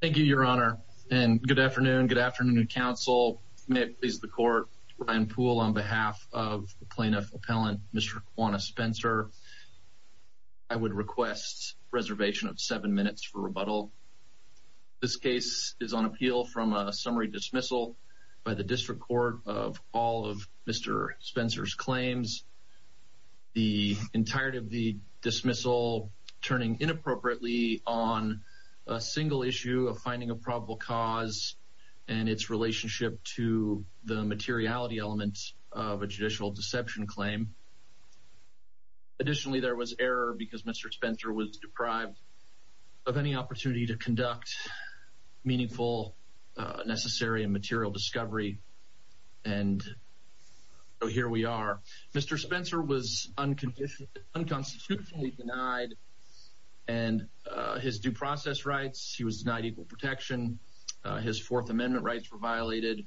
Thank you your honor and good afternoon good afternoon counsel may it please the court Ryan Poole on behalf of the plaintiff appellant mr. Juana Spencer I would request reservation of seven minutes for rebuttal this case is on appeal from a summary dismissal by the district court of all of mr. Spencer's issue of finding a probable cause and its relationship to the materiality elements of a judicial deception claim additionally there was error because mr. Spencer was deprived of any opportunity to conduct meaningful necessary and material discovery and here we are mr. Spencer was unconditionally unconstitutionally denied and his due process rights he was denied equal protection his Fourth Amendment rights were violated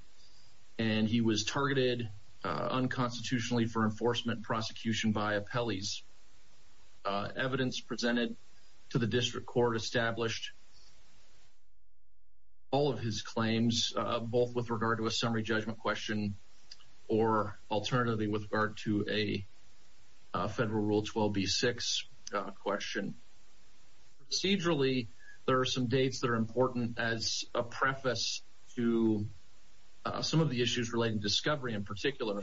and he was targeted unconstitutionally for enforcement prosecution by appellees evidence presented to the district court established all of his claims both with regard to a summary judgment question or alternatively with regard to a federal rule 12 b6 question procedurally there are some dates that are important as a preface to some of the issues relating discovery in particular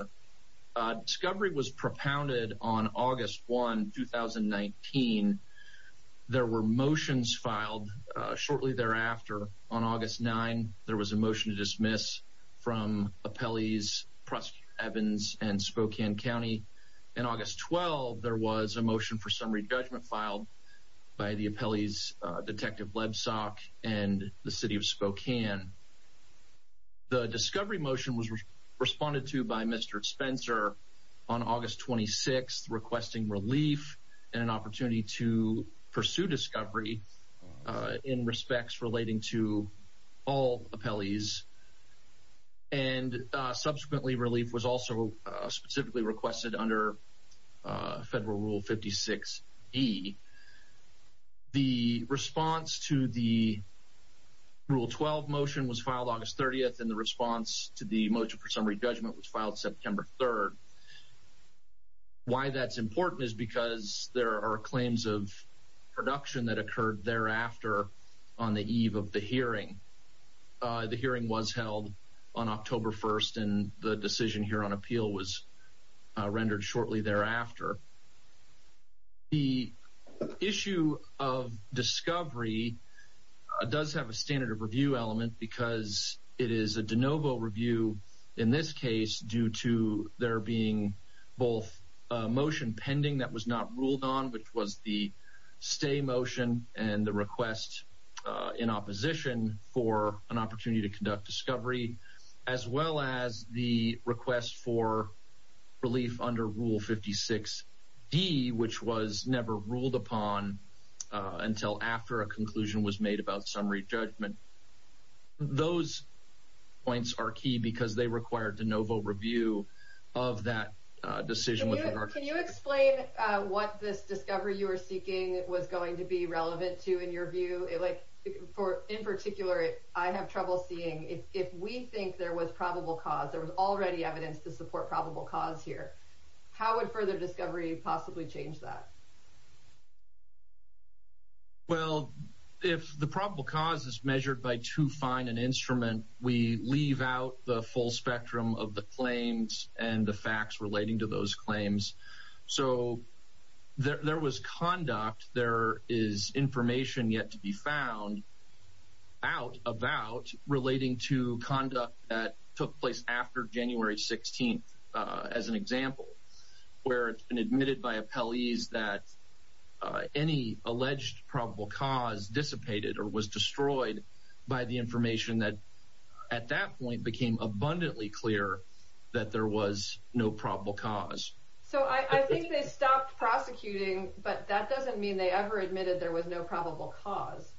discovery was propounded on August 1 2019 there were motions filed shortly thereafter on August 9 there was a motion to dismiss from appellees Evans and Spokane County in August 12 there was a motion for summary judgment filed by the appellees detective web sock and the city of Spokane the discovery motion was responded to by mr. Spencer on August 26th requesting relief and an opportunity to pursue discovery in respects relating to all appellees and subsequently relief was also specifically requested under federal rule 56 e the response to the rule 12 motion was filed August 30th and the response to the motion for summary judgment was filed September 3rd why that's important is because there are claims of production that occurred thereafter on the eve of the hearing the hearing was held on October 1st and the decision here on appeal was rendered shortly thereafter the issue of discovery does have a standard of review element because it is a de novo review in this case due to there being both motion pending that was not ruled on which was the stay motion and the request in opposition for an opportunity to conduct discovery as well as the request for relief under rule 56 D which was never ruled upon until after a conclusion was made about summary judgment those points are key because they required de novo review of that decision with her can you explain what this discovery you are seeking it was going to be relevant to in your view it like for in particular I have trouble seeing if we think there was probable cause there was already evidence to support probable cause here how would further discovery possibly change that well if the probable cause is measured by too fine an instrument we leave out the full spectrum of the claims and the facts relating to those claims so there was conduct there is information yet to be found out about relating to conduct that took place after January 16th as an example where it's been admitted by appellees that any alleged probable cause dissipated or was destroyed by the information that at that point became abundantly clear that there was no probable cause so I think they stopped prosecuting but that doesn't mean they ever admitted there was no probable cause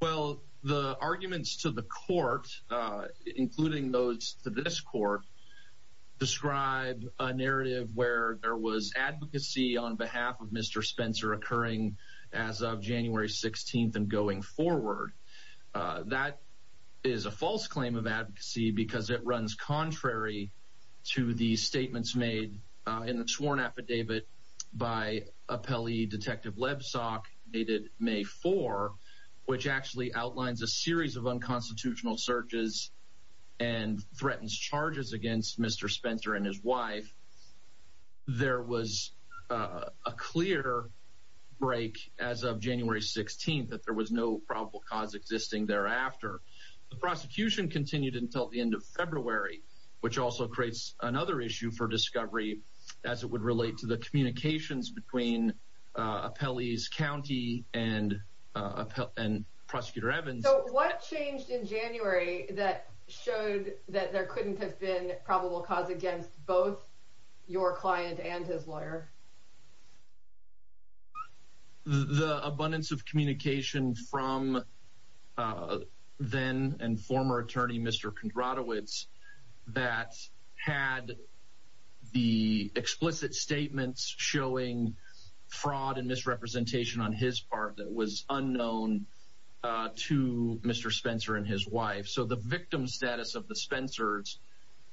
well the arguments to the court including those to this court described a narrative where there was advocacy on behalf of mr. Spencer occurring as of January 16th and going forward that is a false claim of advocacy because it runs contrary to these statements made in the sworn affidavit by a Pele detective web sock dated May 4 which actually outlines a series of unconstitutional searches and threatens charges against mr. Spencer and his wife there was a clear break as January 16th that there was no probable cause existing thereafter the prosecution continued until the end of February which also creates another issue for discovery as it would relate to the communications between appellees County and and prosecutor Evans what changed in January that showed that there couldn't have been probable cause against both your client and his lawyer the abundance of communication from then and former attorney mr. Kondratowicz that had the explicit statements showing fraud and misrepresentation on his part that was unknown to mr. Spencer and his wife so the victim status of the Spencers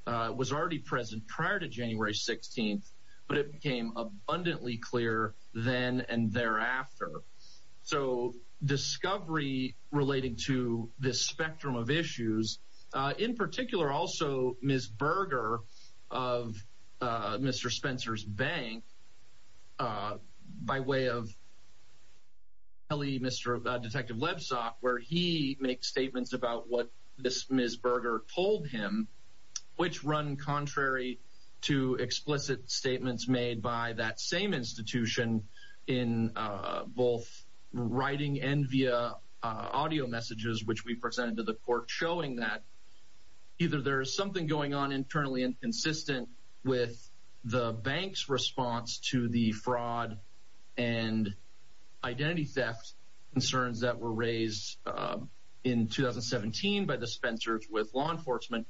was already present prior to January 16th but it became abundantly clear then and thereafter so discovery relating to this spectrum of issues in particular also ms. Berger of mr. Spencer's bank by way of Ellie mr. detective website where he makes statements about what this ms. Berger told him which run contrary to explicit statements made by that same institution in both writing and via audio messages which we presented to the court showing that either there is something going on internally and consistent with the bank's response to the fraud and identity theft concerns that were raised in 2017 by the Spencers with law enforcement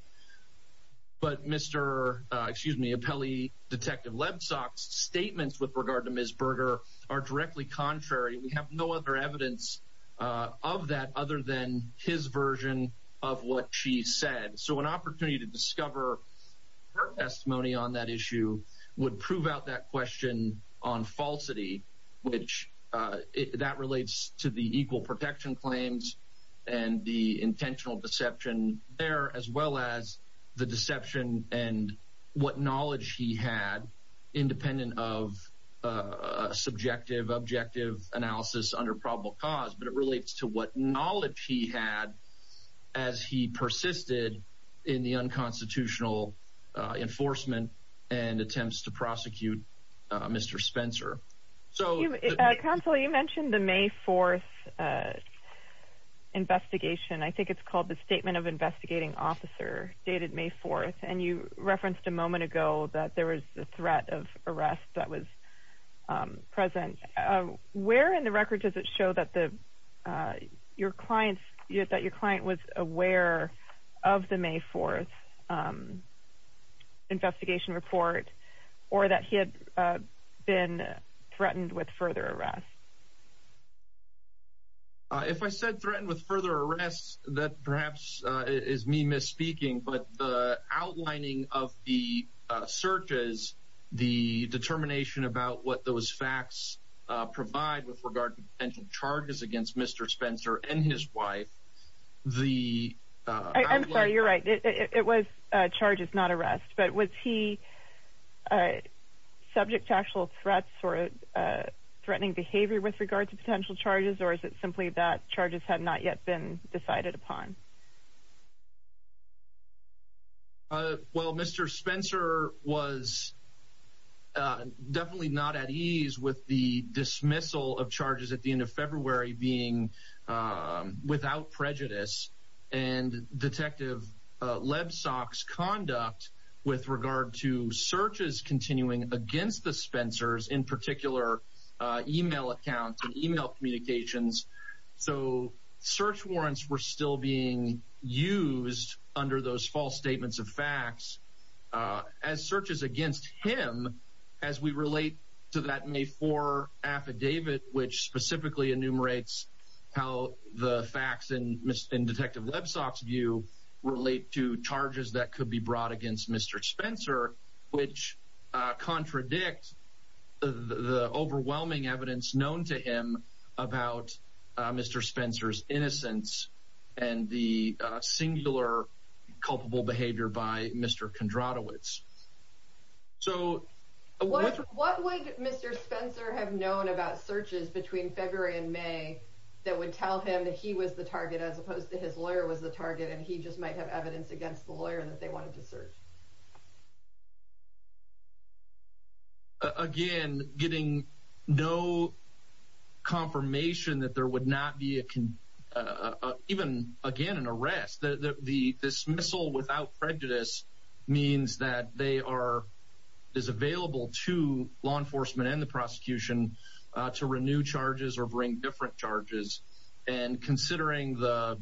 but mr. excuse me appellee detective web socks statements with regard to ms. Berger are directly contrary we have no other evidence of that other than his version of what she said so an opportunity to discover her testimony on that issue would prove out that question on falsity which that relates to the equal protection claims and the intentional deception there as well as the deception and what knowledge he had independent of subjective objective analysis under probable cause but it relates to what knowledge he had as he to prosecute mr. Spencer so council you mentioned the May 4th investigation I think it's called the statement of investigating officer dated May 4th and you referenced a moment ago that there was a threat of arrest that was present where in the record does it show that the your clients yet that your client was aware of the May 4th investigation report or that he had been threatened with further arrest if I said threatened with further arrests that perhaps is me misspeaking but the outlining of the searches the determination about what those facts provide with regard to potential charges against mr. Spencer and his wife the it was charges not arrest but was he subject to actual threats or a threatening behavior with regards to potential charges or is it simply that charges have not yet been decided upon well mr. Spencer was definitely not at ease with the dismissal of charges at the end of February being without prejudice and detective Lebsack's conduct with regard to searches continuing against the Spencers in particular email accounts and email communications so search warrants were still being used under those false statements of facts as searches against him as we relate to that May 4 affidavit which specifically enumerates how the facts and detective Lebsack's view relate to charges that could be brought against mr. Spencer which contradicts the overwhelming evidence known to him about mr. Spencer's innocence and the singular culpable by mr. Kondratowicz so what would mr. Spencer have known about searches between February and May that would tell him that he was the target as opposed to his lawyer was the target and he just might have evidence against the lawyer that they wanted to search again getting no confirmation that there would not be can even again an arrest the dismissal without prejudice means that they are is available to law enforcement and the prosecution to renew charges or bring different charges and considering the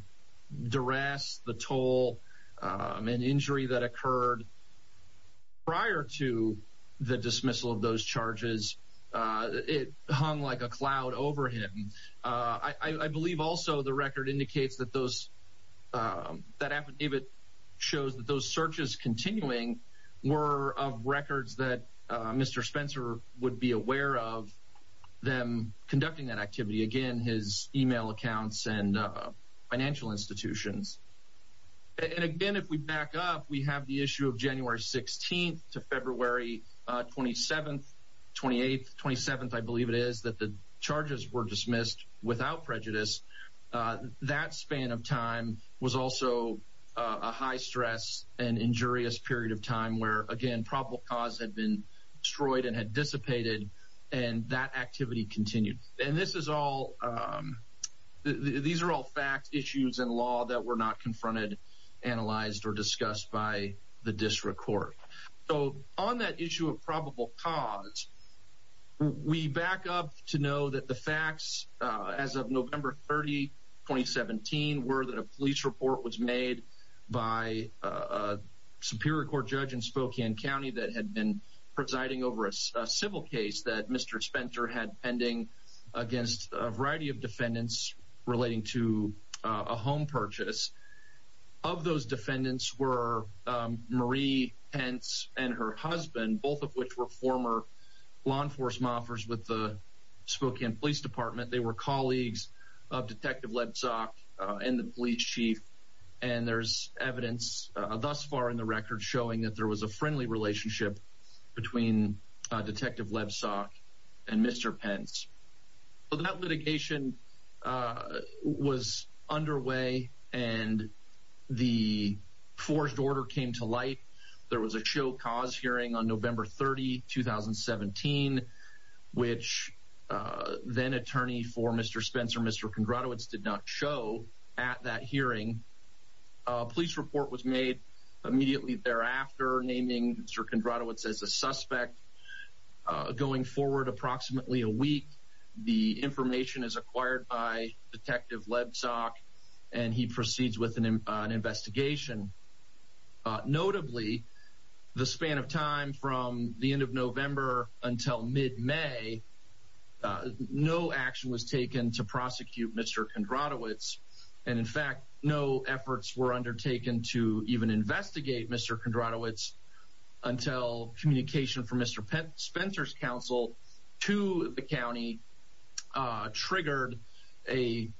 duress the toll an injury that occurred prior to the dismissal of those charges it hung like a cloud over him I believe also the record indicates that those that affidavit shows that those searches continuing were of records that mr. Spencer would be aware of them conducting that activity again his email accounts and financial institutions and again if we back up we have the issue of January 16th to February 27th 28th 27th I that span of time was also a high stress and injurious period of time where again probable cause had been destroyed and had dissipated and that activity continued and this is all these are all fact issues and law that were not confronted analyzed or discussed by the district court so on that issue of November 30 2017 were the police report was made by Superior Court judge in Spokane County that had been presiding over a civil case that mr. Spencer had pending against a variety of defendants relating to a home purchase of those defendants were Marie Pence and her husband both of which were former law and police department they were colleagues of detective Lebsak and the police chief and there's evidence thus far in the record showing that there was a friendly relationship between detective Lebsak and mr. Pence but that litigation was underway and the forged order came to light there was a show hearing on November 30 2017 which then attorney for mr. Spencer mr. Kondratowicz did not show at that hearing police report was made immediately thereafter naming mr. Kondratowicz as a suspect going forward approximately a week the information is acquired by detective Lebsak and he of time from the end of November until mid-may no action was taken to prosecute mr. Kondratowicz and in fact no efforts were undertaken to even investigate mr. Kondratowicz until communication from mr. Spencer's counsel to the county triggered a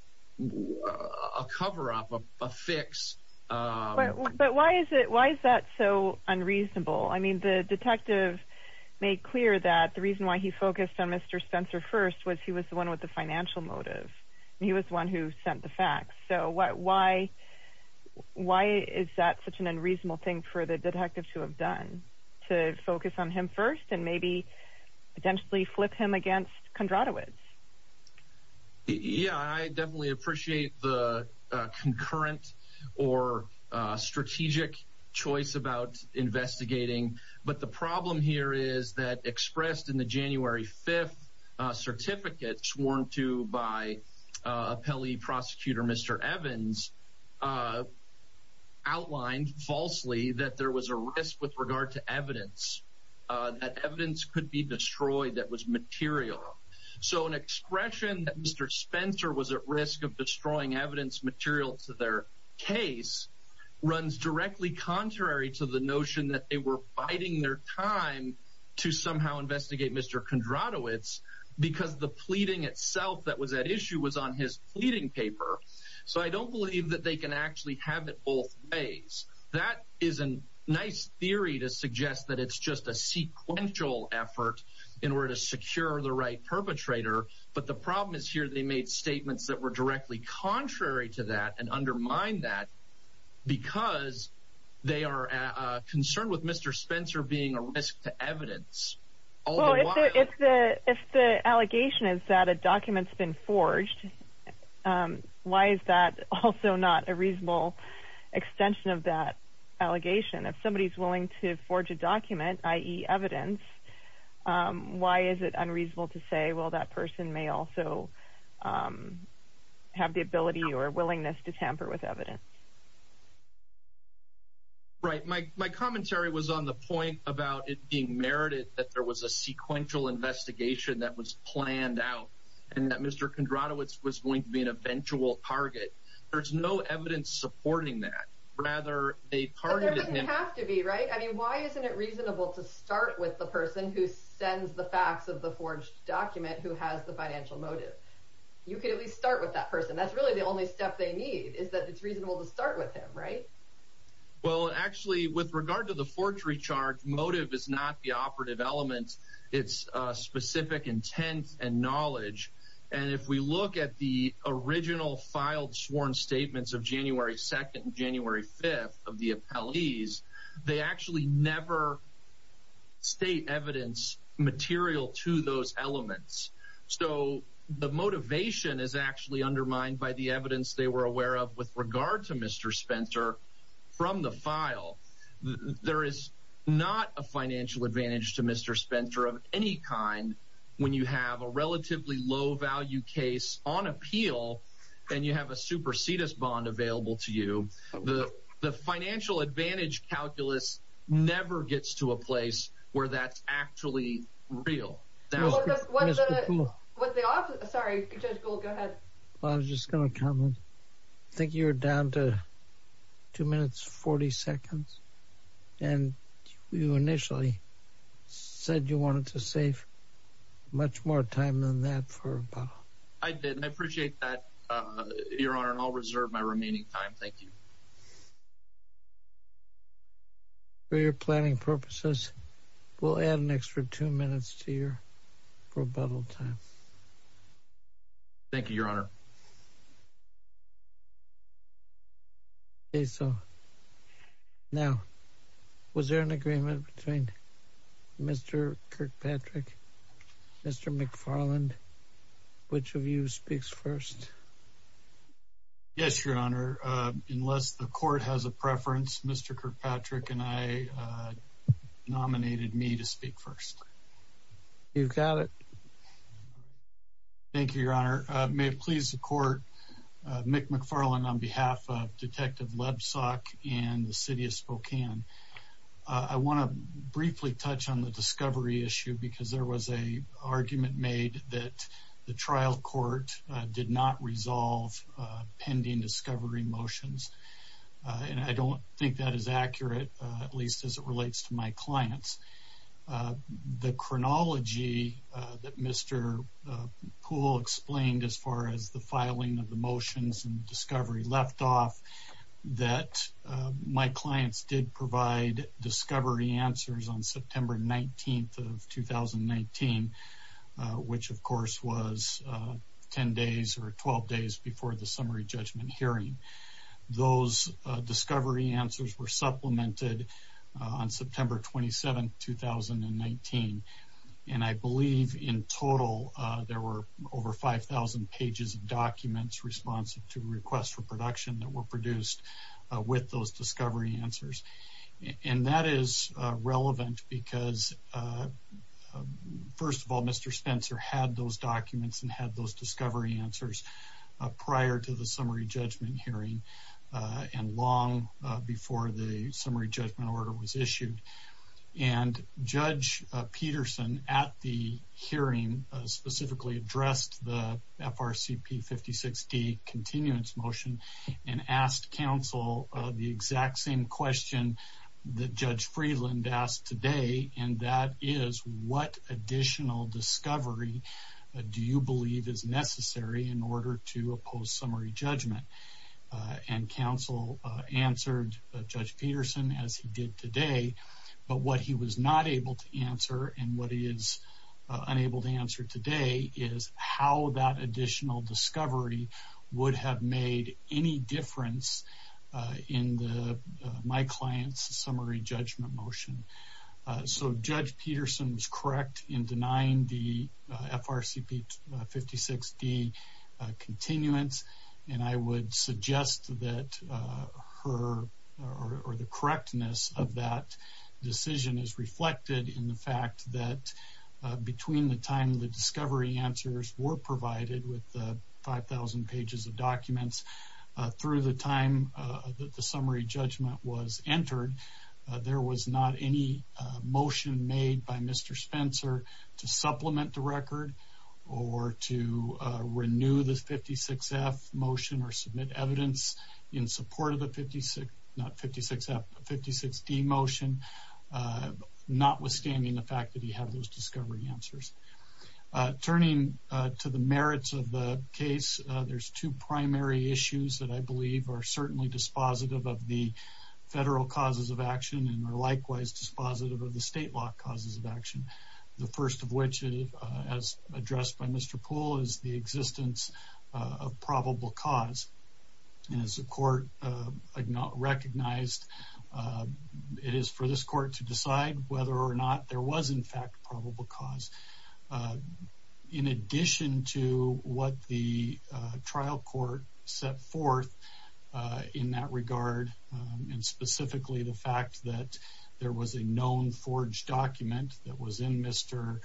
cover-up a fix but why is it why is that so unreasonable I mean the detective made clear that the reason why he focused on mr. Spencer first was he was the one with the financial motive he was the one who sent the facts so what why why is that such an unreasonable thing for the detective to have done to potentially flip him against Kondratowicz yeah I definitely appreciate the concurrent or strategic choice about investigating but the problem here is that expressed in the January 5th certificate sworn to by a Pele prosecutor mr. Evans outlined falsely that there was a risk with regard to evidence that evidence could be destroyed that was material so an expression that mr. Spencer was at risk of destroying evidence material to their case runs directly contrary to the notion that they were biding their time to somehow investigate mr. Kondratowicz because the pleading itself that was at issue was on his pleading paper so I don't believe that they can actually have it both ways that is a nice theory to suggest that it's just a sequential effort in order to secure the right perpetrator but the problem is here they made statements that were directly contrary to that and undermine that because they are concerned with mr. Spencer being a risk to evidence if the allegation is that a allegation if somebody's willing to forge a document ie evidence why is it unreasonable to say well that person may also have the ability or willingness to tamper with evidence right my commentary was on the point about it being merited that there was a sequential investigation that was planned out and that mr. Kondratowicz was going to be an eventual target there's no evidence supporting that rather they targeted him to be right I mean why isn't it reasonable to start with the person who sends the facts of the forged document who has the financial motive you can at least start with that person that's really the only step they need is that it's reasonable to start with him right well actually with regard to the forgery charge motive is not the operative element it's specific intent and knowledge and if we look at the original filed sworn statements of January 2nd January 5th of the appellees they actually never state evidence material to those elements so the motivation is actually undermined by the evidence they were aware of with regard to mr. Spencer from the file there is not a financial advantage to mr. any kind when you have a relatively low value case on appeal and you have a supersedis bond available to you the the financial advantage calculus never gets to a place where that's actually real I was just gonna comment I think you're down to two minutes 40 seconds and you initially said you wanted to save much more time than that for I did I appreciate that your honor and I'll reserve my remaining time thank you for your planning purposes we'll add an extra two minutes to your rebuttal time thank you your honor okay so now was there an agreement between mr. Kirkpatrick mr. McFarland which of you speaks first yes your honor unless the court has a preference mr. Kirkpatrick and I nominated me to speak first you've got it thank you your honor may it please the court Mick McFarland on behalf of detective Lebsack and the city of Spokane I want to briefly touch on the discovery issue because there was a argument made that the trial court did not resolve pending discovery motions and I don't think that is accurate at least as it relates to my clients the chronology that mr. pool explained as far as the filing of the motions and discovery left off that my clients did provide discovery answers on September 19th of 2019 which of course was 10 days or 12 days before the summary judgment hearing those discovery answers were supplemented on September 27 2019 and I believe in total there were over 5,000 pages of documents responsive to requests for production that were produced with those discovery answers and that is relevant because first of all mr. Spencer had those documents and had those discovery answers prior to the summary judgment hearing and long before the summary judgment order was issued and judge Peterson at the hearing specifically addressed the FRCP 56 D continuance motion and asked counsel the exact same question that judge Freeland asked today and that is what additional discovery do you believe is necessary in order to oppose summary judgment and counsel answered judge Peterson as he did today but what he was not able to answer and what he is unable to answer today is how that additional discovery would have made any difference in the my clients summary judgment motion so judge Peterson was correct in denying the FRCP 56 D continuance and I would suggest that her or the correctness of that decision is reflected in the fact that between the time the discovery answers were provided with the 5,000 pages of documents through the time that the summary judgment was entered there was not any motion made by mr. Spencer to supplement the record or to renew this 56 F motion or submit evidence in support of the 56 not 56 F 56 D motion notwithstanding the fact that you have those discovery answers turning to the merits of the case there's two primary issues that I believe are certainly dispositive of the federal causes of action and are likewise dispositive of the state law causes of action the first of which is as addressed by mr. pool is the existence of probable cause and as a court I do not recognized it is for this court to decide whether or not there was in fact probable cause in addition to what the trial court set forth in that regard and specifically the fact that there was a known forged document that was in mr.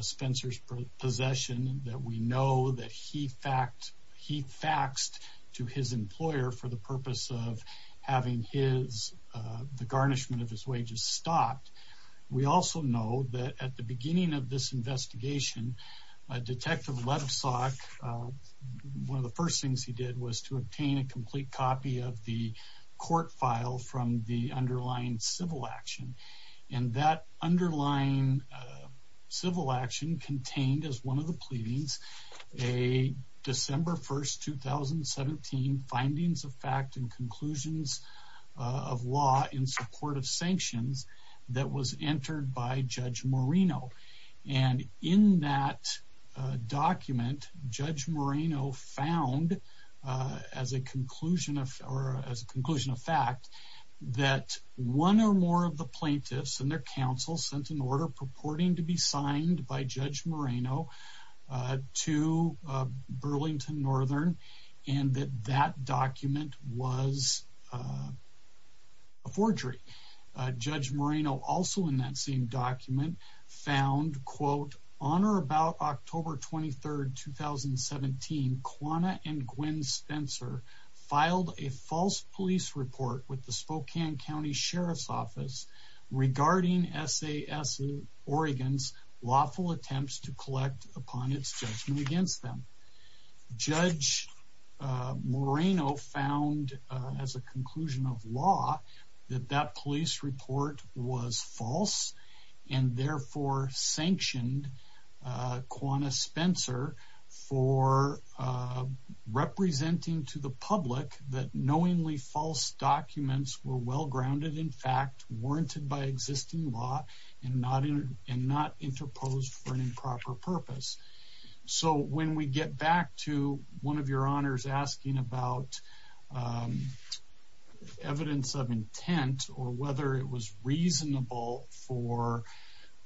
Spencer's possession that we know that he fact he faxed to his employer for the purpose of having his the garnishment of his wages stopped we also know that at the beginning of this one of the first things he did was to obtain a complete copy of the court file from the underlying civil action and that underlying civil action contained as one of the pleadings a December 1st 2017 findings of fact and conclusions of law in support of sanctions that was entered by judge Moreno and in that document judge Moreno found as a conclusion of or as a conclusion of fact that one or more of the plaintiffs and their counsel sent an order purporting to be signed by judge Moreno to Burlington Northern and that that document was a forgery judge Moreno also in that same document found quote on or October 23rd 2017 Quanah and Gwen Spencer filed a false police report with the Spokane County Sheriff's Office regarding SAS in Oregon's lawful attempts to collect upon its judgment against them judge Moreno found as a Quanah Spencer for representing to the public that knowingly false documents were well grounded in fact warranted by existing law and not in and not interposed for an improper purpose so when we get back to one of your honors asking about evidence of intent or whether it was reasonable for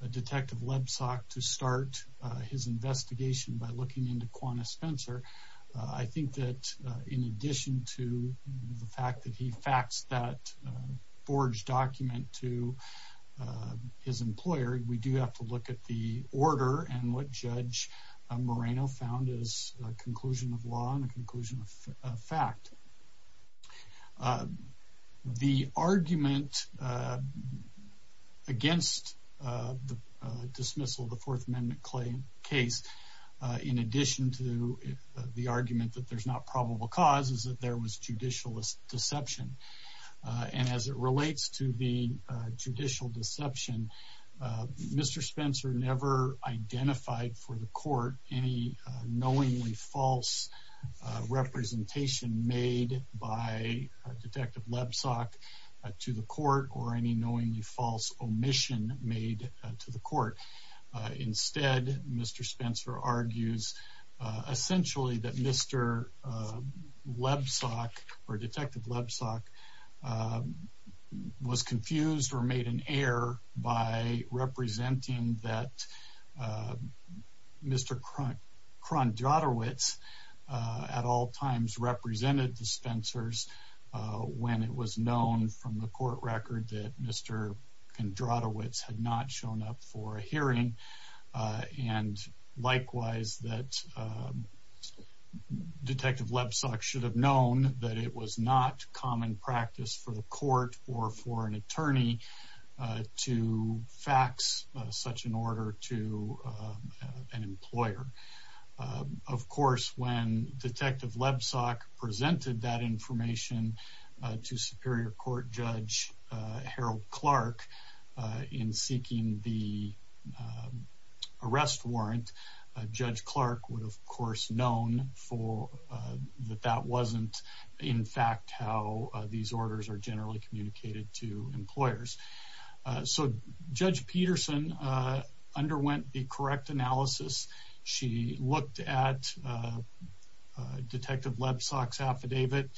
a detective Lebsack to start his investigation by looking into Quanah Spencer I think that in addition to the fact that he facts that forged document to his employer we do have to look at the order and what judge Moreno found is a conclusion of fact the argument against the dismissal of the Fourth Amendment claim case in addition to the argument that there's not probable causes that there was judicial deception and as it relates to the judicial deception Mr. Spencer never identified for the court any knowingly false representation made by detective Lebsack to the court or any knowingly false omission made to the court instead mr. Spencer argues essentially that mr. Lebsack or detective Lebsack was mr. Cronk Cronk Jotter wits at all times represented the Spencers when it was known from the court record that mr. can draw the wits had not shown up for a hearing and likewise that detective Lebsack should have known that it was common practice for the court or for an attorney to fax such an order to an employer of course when detective Lebsack presented that information to Superior Court Judge Harold Clark in seeking the arrest warrant judge Clark would of course known for that that wasn't in fact how these orders are generally communicated to employers so judge Peterson underwent the correct analysis she looked at detective Lebsack's affidavit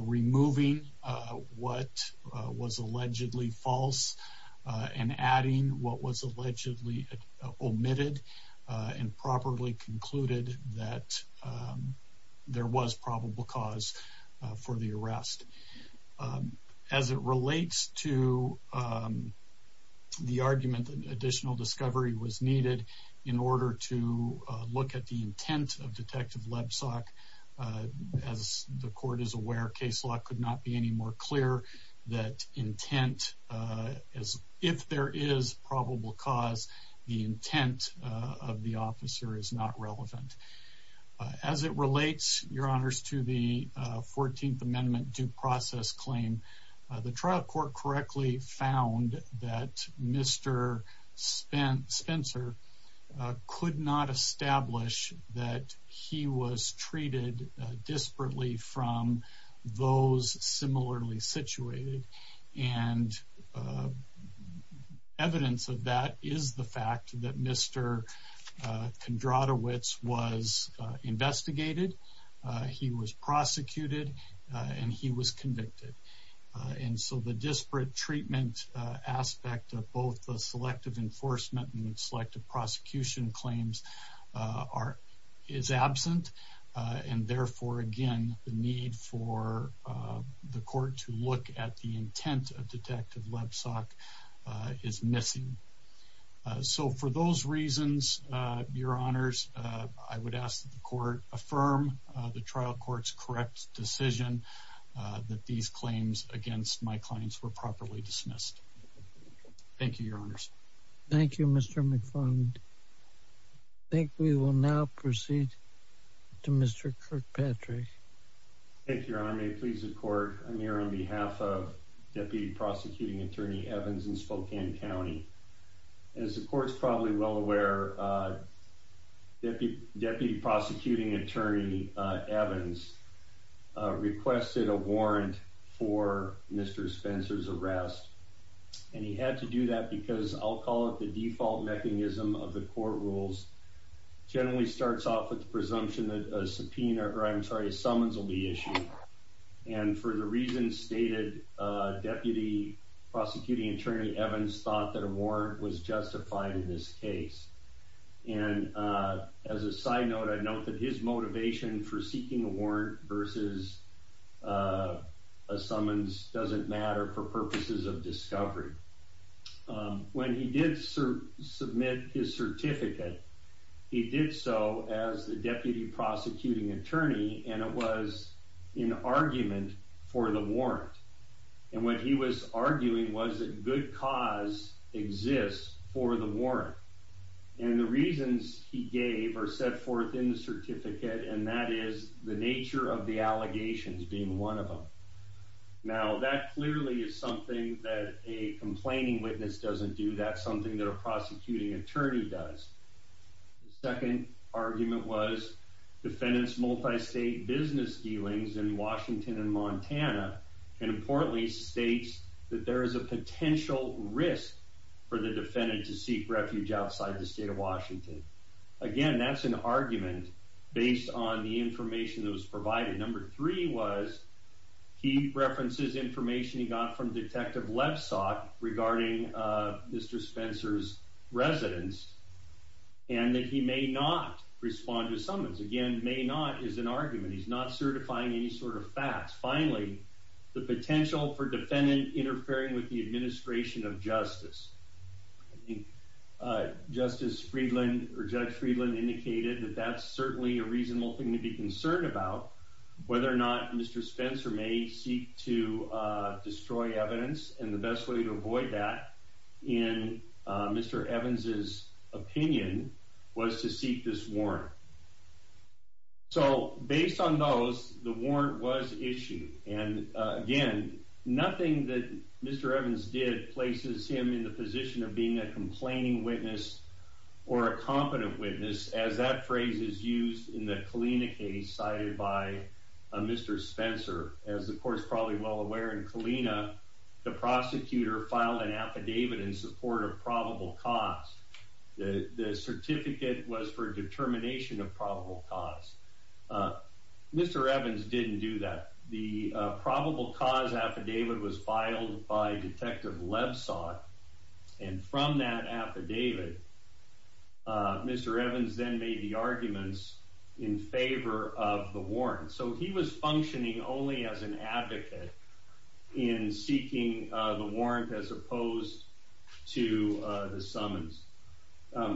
removing what was that there was probable cause for the arrest as it relates to the argument additional discovery was needed in order to look at the intent of detective Lebsack as the court is aware case law could not be any more clear that intent as if there is probable cause the intent of the officer is not relevant as it relates your honors to the 14th Amendment due process claim the trial court correctly found that mr. spent Spencer could not establish that he was evidence of that is the fact that mr. can draw the wits was investigated he was prosecuted and he was convicted and so the disparate treatment aspect of both the selective enforcement and selective prosecution claims are is absent and therefore again the need for the court to look at the intent of Lebsack is missing so for those reasons your honors I would ask the court affirm the trial courts correct decision that these claims against my clients were properly dismissed thank you your honors thank you mr. McFarland think we will now proceed to mr. Kirkpatrick thank your honor may it please the court I'm attorney Evans in Spokane County as the courts probably well aware that the deputy prosecuting attorney Evans requested a warrant for mr. Spencer's arrest and he had to do that because I'll call it the default mechanism of the court rules generally starts off with the presumption that a subpoena or I'm sorry summons will be issued and for the reason stated deputy prosecuting attorney Evans thought that a warrant was justified in this case and as a side note I'd note that his motivation for seeking a warrant versus a summons doesn't matter for purposes of discovery when he did serve submit his certificate he did so as the deputy prosecuting attorney and it was in argument for the warrant and what he was arguing was that good cause exists for the warrant and the reasons he gave or set forth in the certificate and that is the nature of the allegations being one of them now that clearly is something that a complaining witness doesn't do that something that a prosecuting attorney does second argument was defendants multi-state business dealings in Washington and Montana and importantly states that there is a potential risk for the defendant to seek refuge outside the state of Washington again that's an argument based on the information that was provided number three was he references information he got from detective left sock regarding mr. Spencer's residence and that he may not respond to summons again may not is an argument he's not certifying any sort of facts finally the potential for defendant interfering with the administration of justice justice Friedland or judge Friedland indicated that that's certainly a reasonable thing to be concerned about whether or not mr. Spencer may seek to destroy evidence and the best way to avoid that in mr. Evans's opinion was to seek this warrant so based on those the warrant was issued and again nothing that mr. Evans did places him in the position of being a complaining witness or a competent witness as that phrase is used in the Kalina case cited by mr. Spencer as the aware and Kalina the prosecutor filed an affidavit in support of probable cause the certificate was for determination of probable cause mr. Evans didn't do that the probable cause affidavit was filed by detective left saw and from that affidavit mr. Evans then made the arguments in favor of the in seeking the warrant as opposed to the summons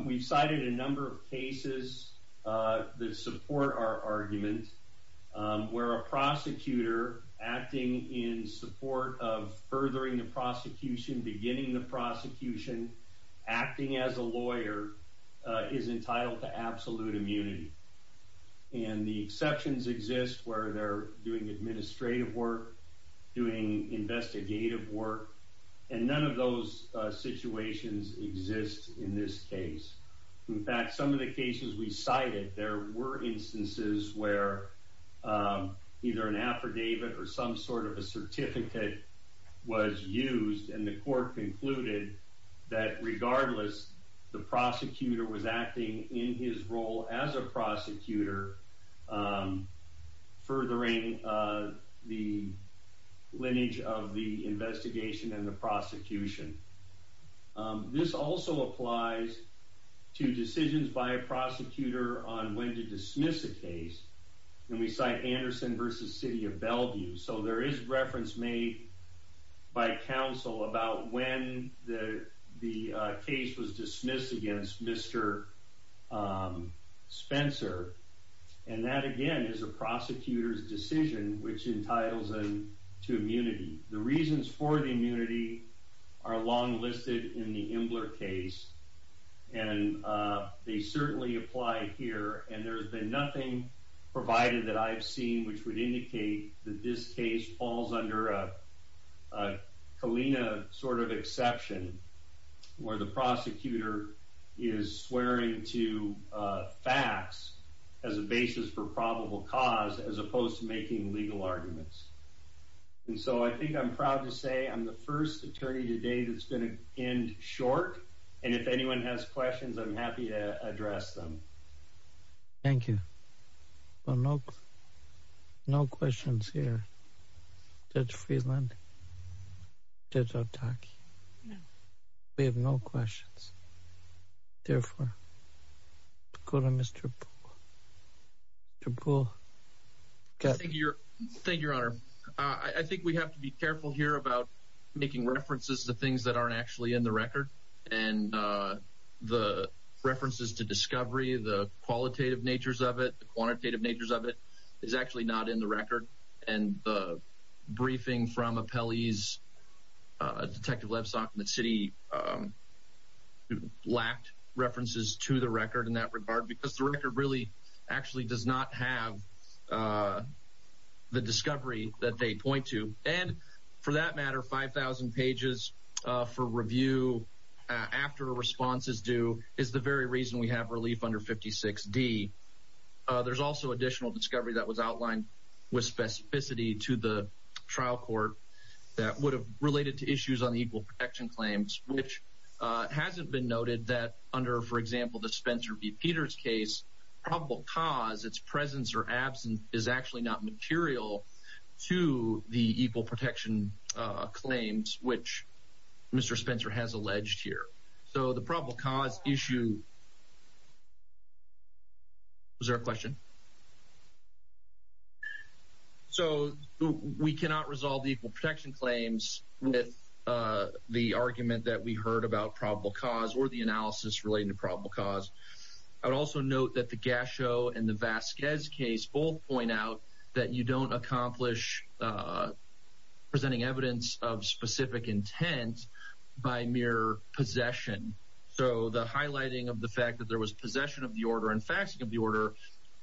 we cited a number of cases that support our argument where a prosecutor acting in support of furthering the prosecution beginning the prosecution acting as a lawyer is entitled to absolute immunity and the exceptions exist where they're doing administrative work doing investigative work and none of those situations exist in this case in fact some of the cases we cited there were instances where either an affidavit or some sort of a certificate was used and the court concluded that regardless the prosecutor was acting in his role as a prosecutor furthering the lineage of the investigation and the prosecution this also applies to decisions by a prosecutor on when to dismiss the case and we cite Anderson versus city of Bellevue so there is reference made by and that again is a prosecutor's decision which entitles them to immunity the reasons for the immunity are long listed in the Imbler case and they certainly apply here and there's been nothing provided that I've seen which would indicate that this case falls under a Kalina sort of exception where the prosecutor is swearing to facts as a basis for probable cause as opposed to making legal arguments and so I think I'm proud to say I'm the first attorney today that's going to end short and if anyone has questions I'm happy to address them thank you well no no questions here that's therefore go to mr. triple okay thank you thank your honor I think we have to be careful here about making references to things that aren't actually in the record and the references to discovery the qualitative natures of it the quantitative natures of it is actually not in the record and the briefing from lacked references to the record in that regard because the record really actually does not have the discovery that they point to and for that matter 5,000 pages for review after a response is due is the very reason we have relief under 56 D there's also additional discovery that was outlined with specificity to the trial court that would have related to issues on the protection claims which hasn't been noted that under for example the Spencer be Peters case probable cause its presence or absence is actually not material to the equal protection claims which mr. Spencer has alleged here so the probable cause issue is there a question so we cannot resolve the equal protection claims with the argument that we heard about probable cause or the analysis relating to probable cause I would also note that the gas show and the Vasquez case both point out that you don't accomplish presenting evidence of specific intent by mere possession so the highlighting of the fact that there was possession of the order and faxing of the order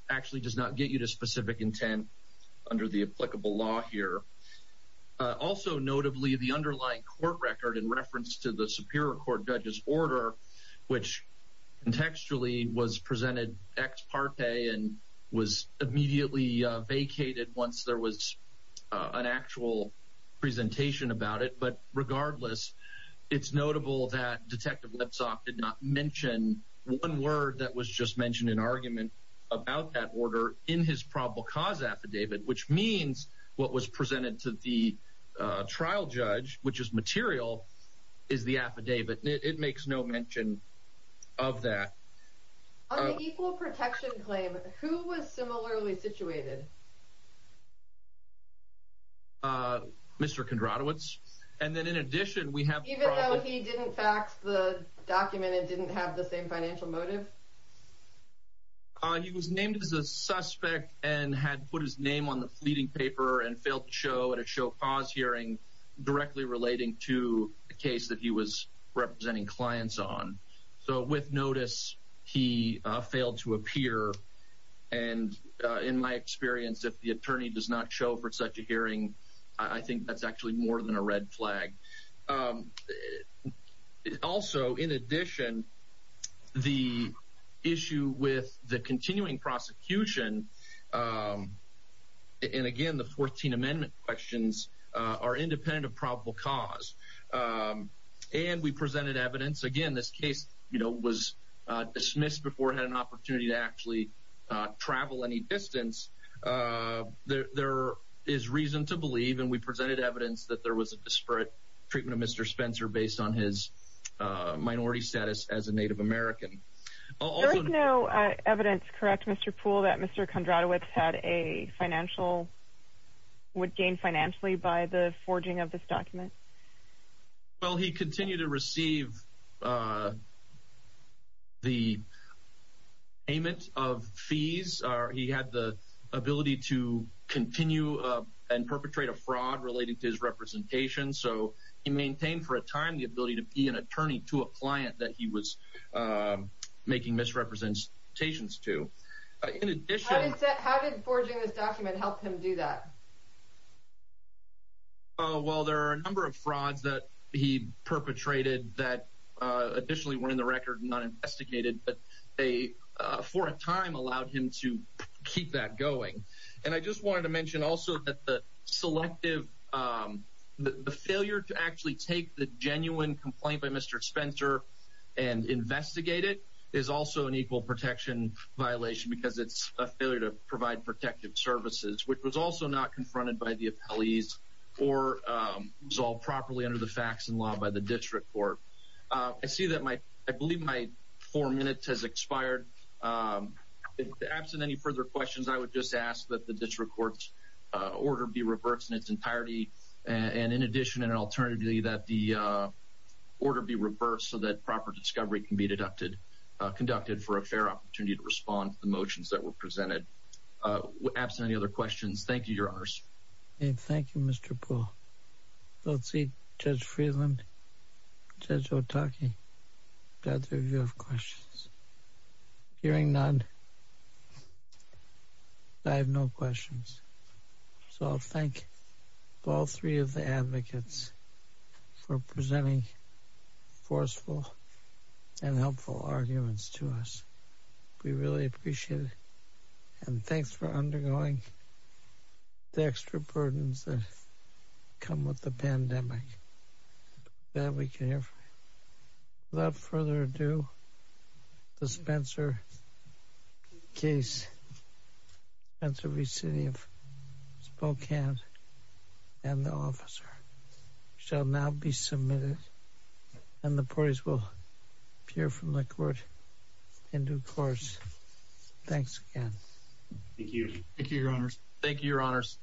actually does not get you to specific intent under the applicable law here also notably the underlying court record in reference to the Superior Court judges order which contextually was presented ex parte and was immediately vacated once there was an actual presentation about it but regardless it's notable that detective let's off did not mention one word that was just mentioned in argument about that order in his probable cause affidavit which means what was presented to the trial judge which is material is the affidavit it makes no mention of that protection claim who was similarly situated mr. Kondratowicz and then in addition we have even though he didn't fax the document it didn't have the same financial motive he was named as a suspect and had put his name on the fleeting paper and failed to show at a show pause hearing directly relating to the case that he was representing clients on so with notice he failed to appear and in my experience if the attorney does not show for such a hearing I think that's actually more than a red flag also in addition the issue with the continuing prosecution and again the 14 amendment questions are independent of probable cause and we presented evidence again this case you know was dismissed before had an opportunity to actually travel any distance there is reason to believe and we presented evidence that there was a disparate treatment of mr. Spencer based on his minority status as a Native American oh no evidence correct mr. pool that mr. Kondratowicz had a financial would gain financially by the forging of this document well he continued to receive the payment of fees or he had the ability to continue and perpetrate a fraud related to his representation so he maintained for a time the ability to be an attorney to a client that he was making misrepresentations to that oh well there are a number of frauds that he perpetrated that additionally were in the record not investigated but they for a time allowed him to keep that going and I just wanted to mention also that the selective the failure to actually take the genuine complaint by mr. Spencer and investigate it is also an equal protection violation because it's a failure to provide protective services which was also not confronted by the appellees or resolve properly under the facts and law by the district court I see that my I believe my four minutes has expired absent any further questions I would just ask that the district courts order be reversed in its entirety and in addition and alternatively that the order be reversed so that proper discovery can be deducted conducted for a fair opportunity to respond to the motions that were absent any other questions thank you your honors and thank you mr. Paul let's see judge Freeland judge Otaki that's a view of questions hearing none I have no questions so I'll thank all three of the advocates for presenting forceful and helpful arguments to us we really appreciate it and thanks for undergoing the extra burdens that come with the pandemic that we can hear without further ado the Spencer case and to be city of Spokane and the officer shall now be submitted and the parties will hear from the court in due course thanks again thank you thank you your honors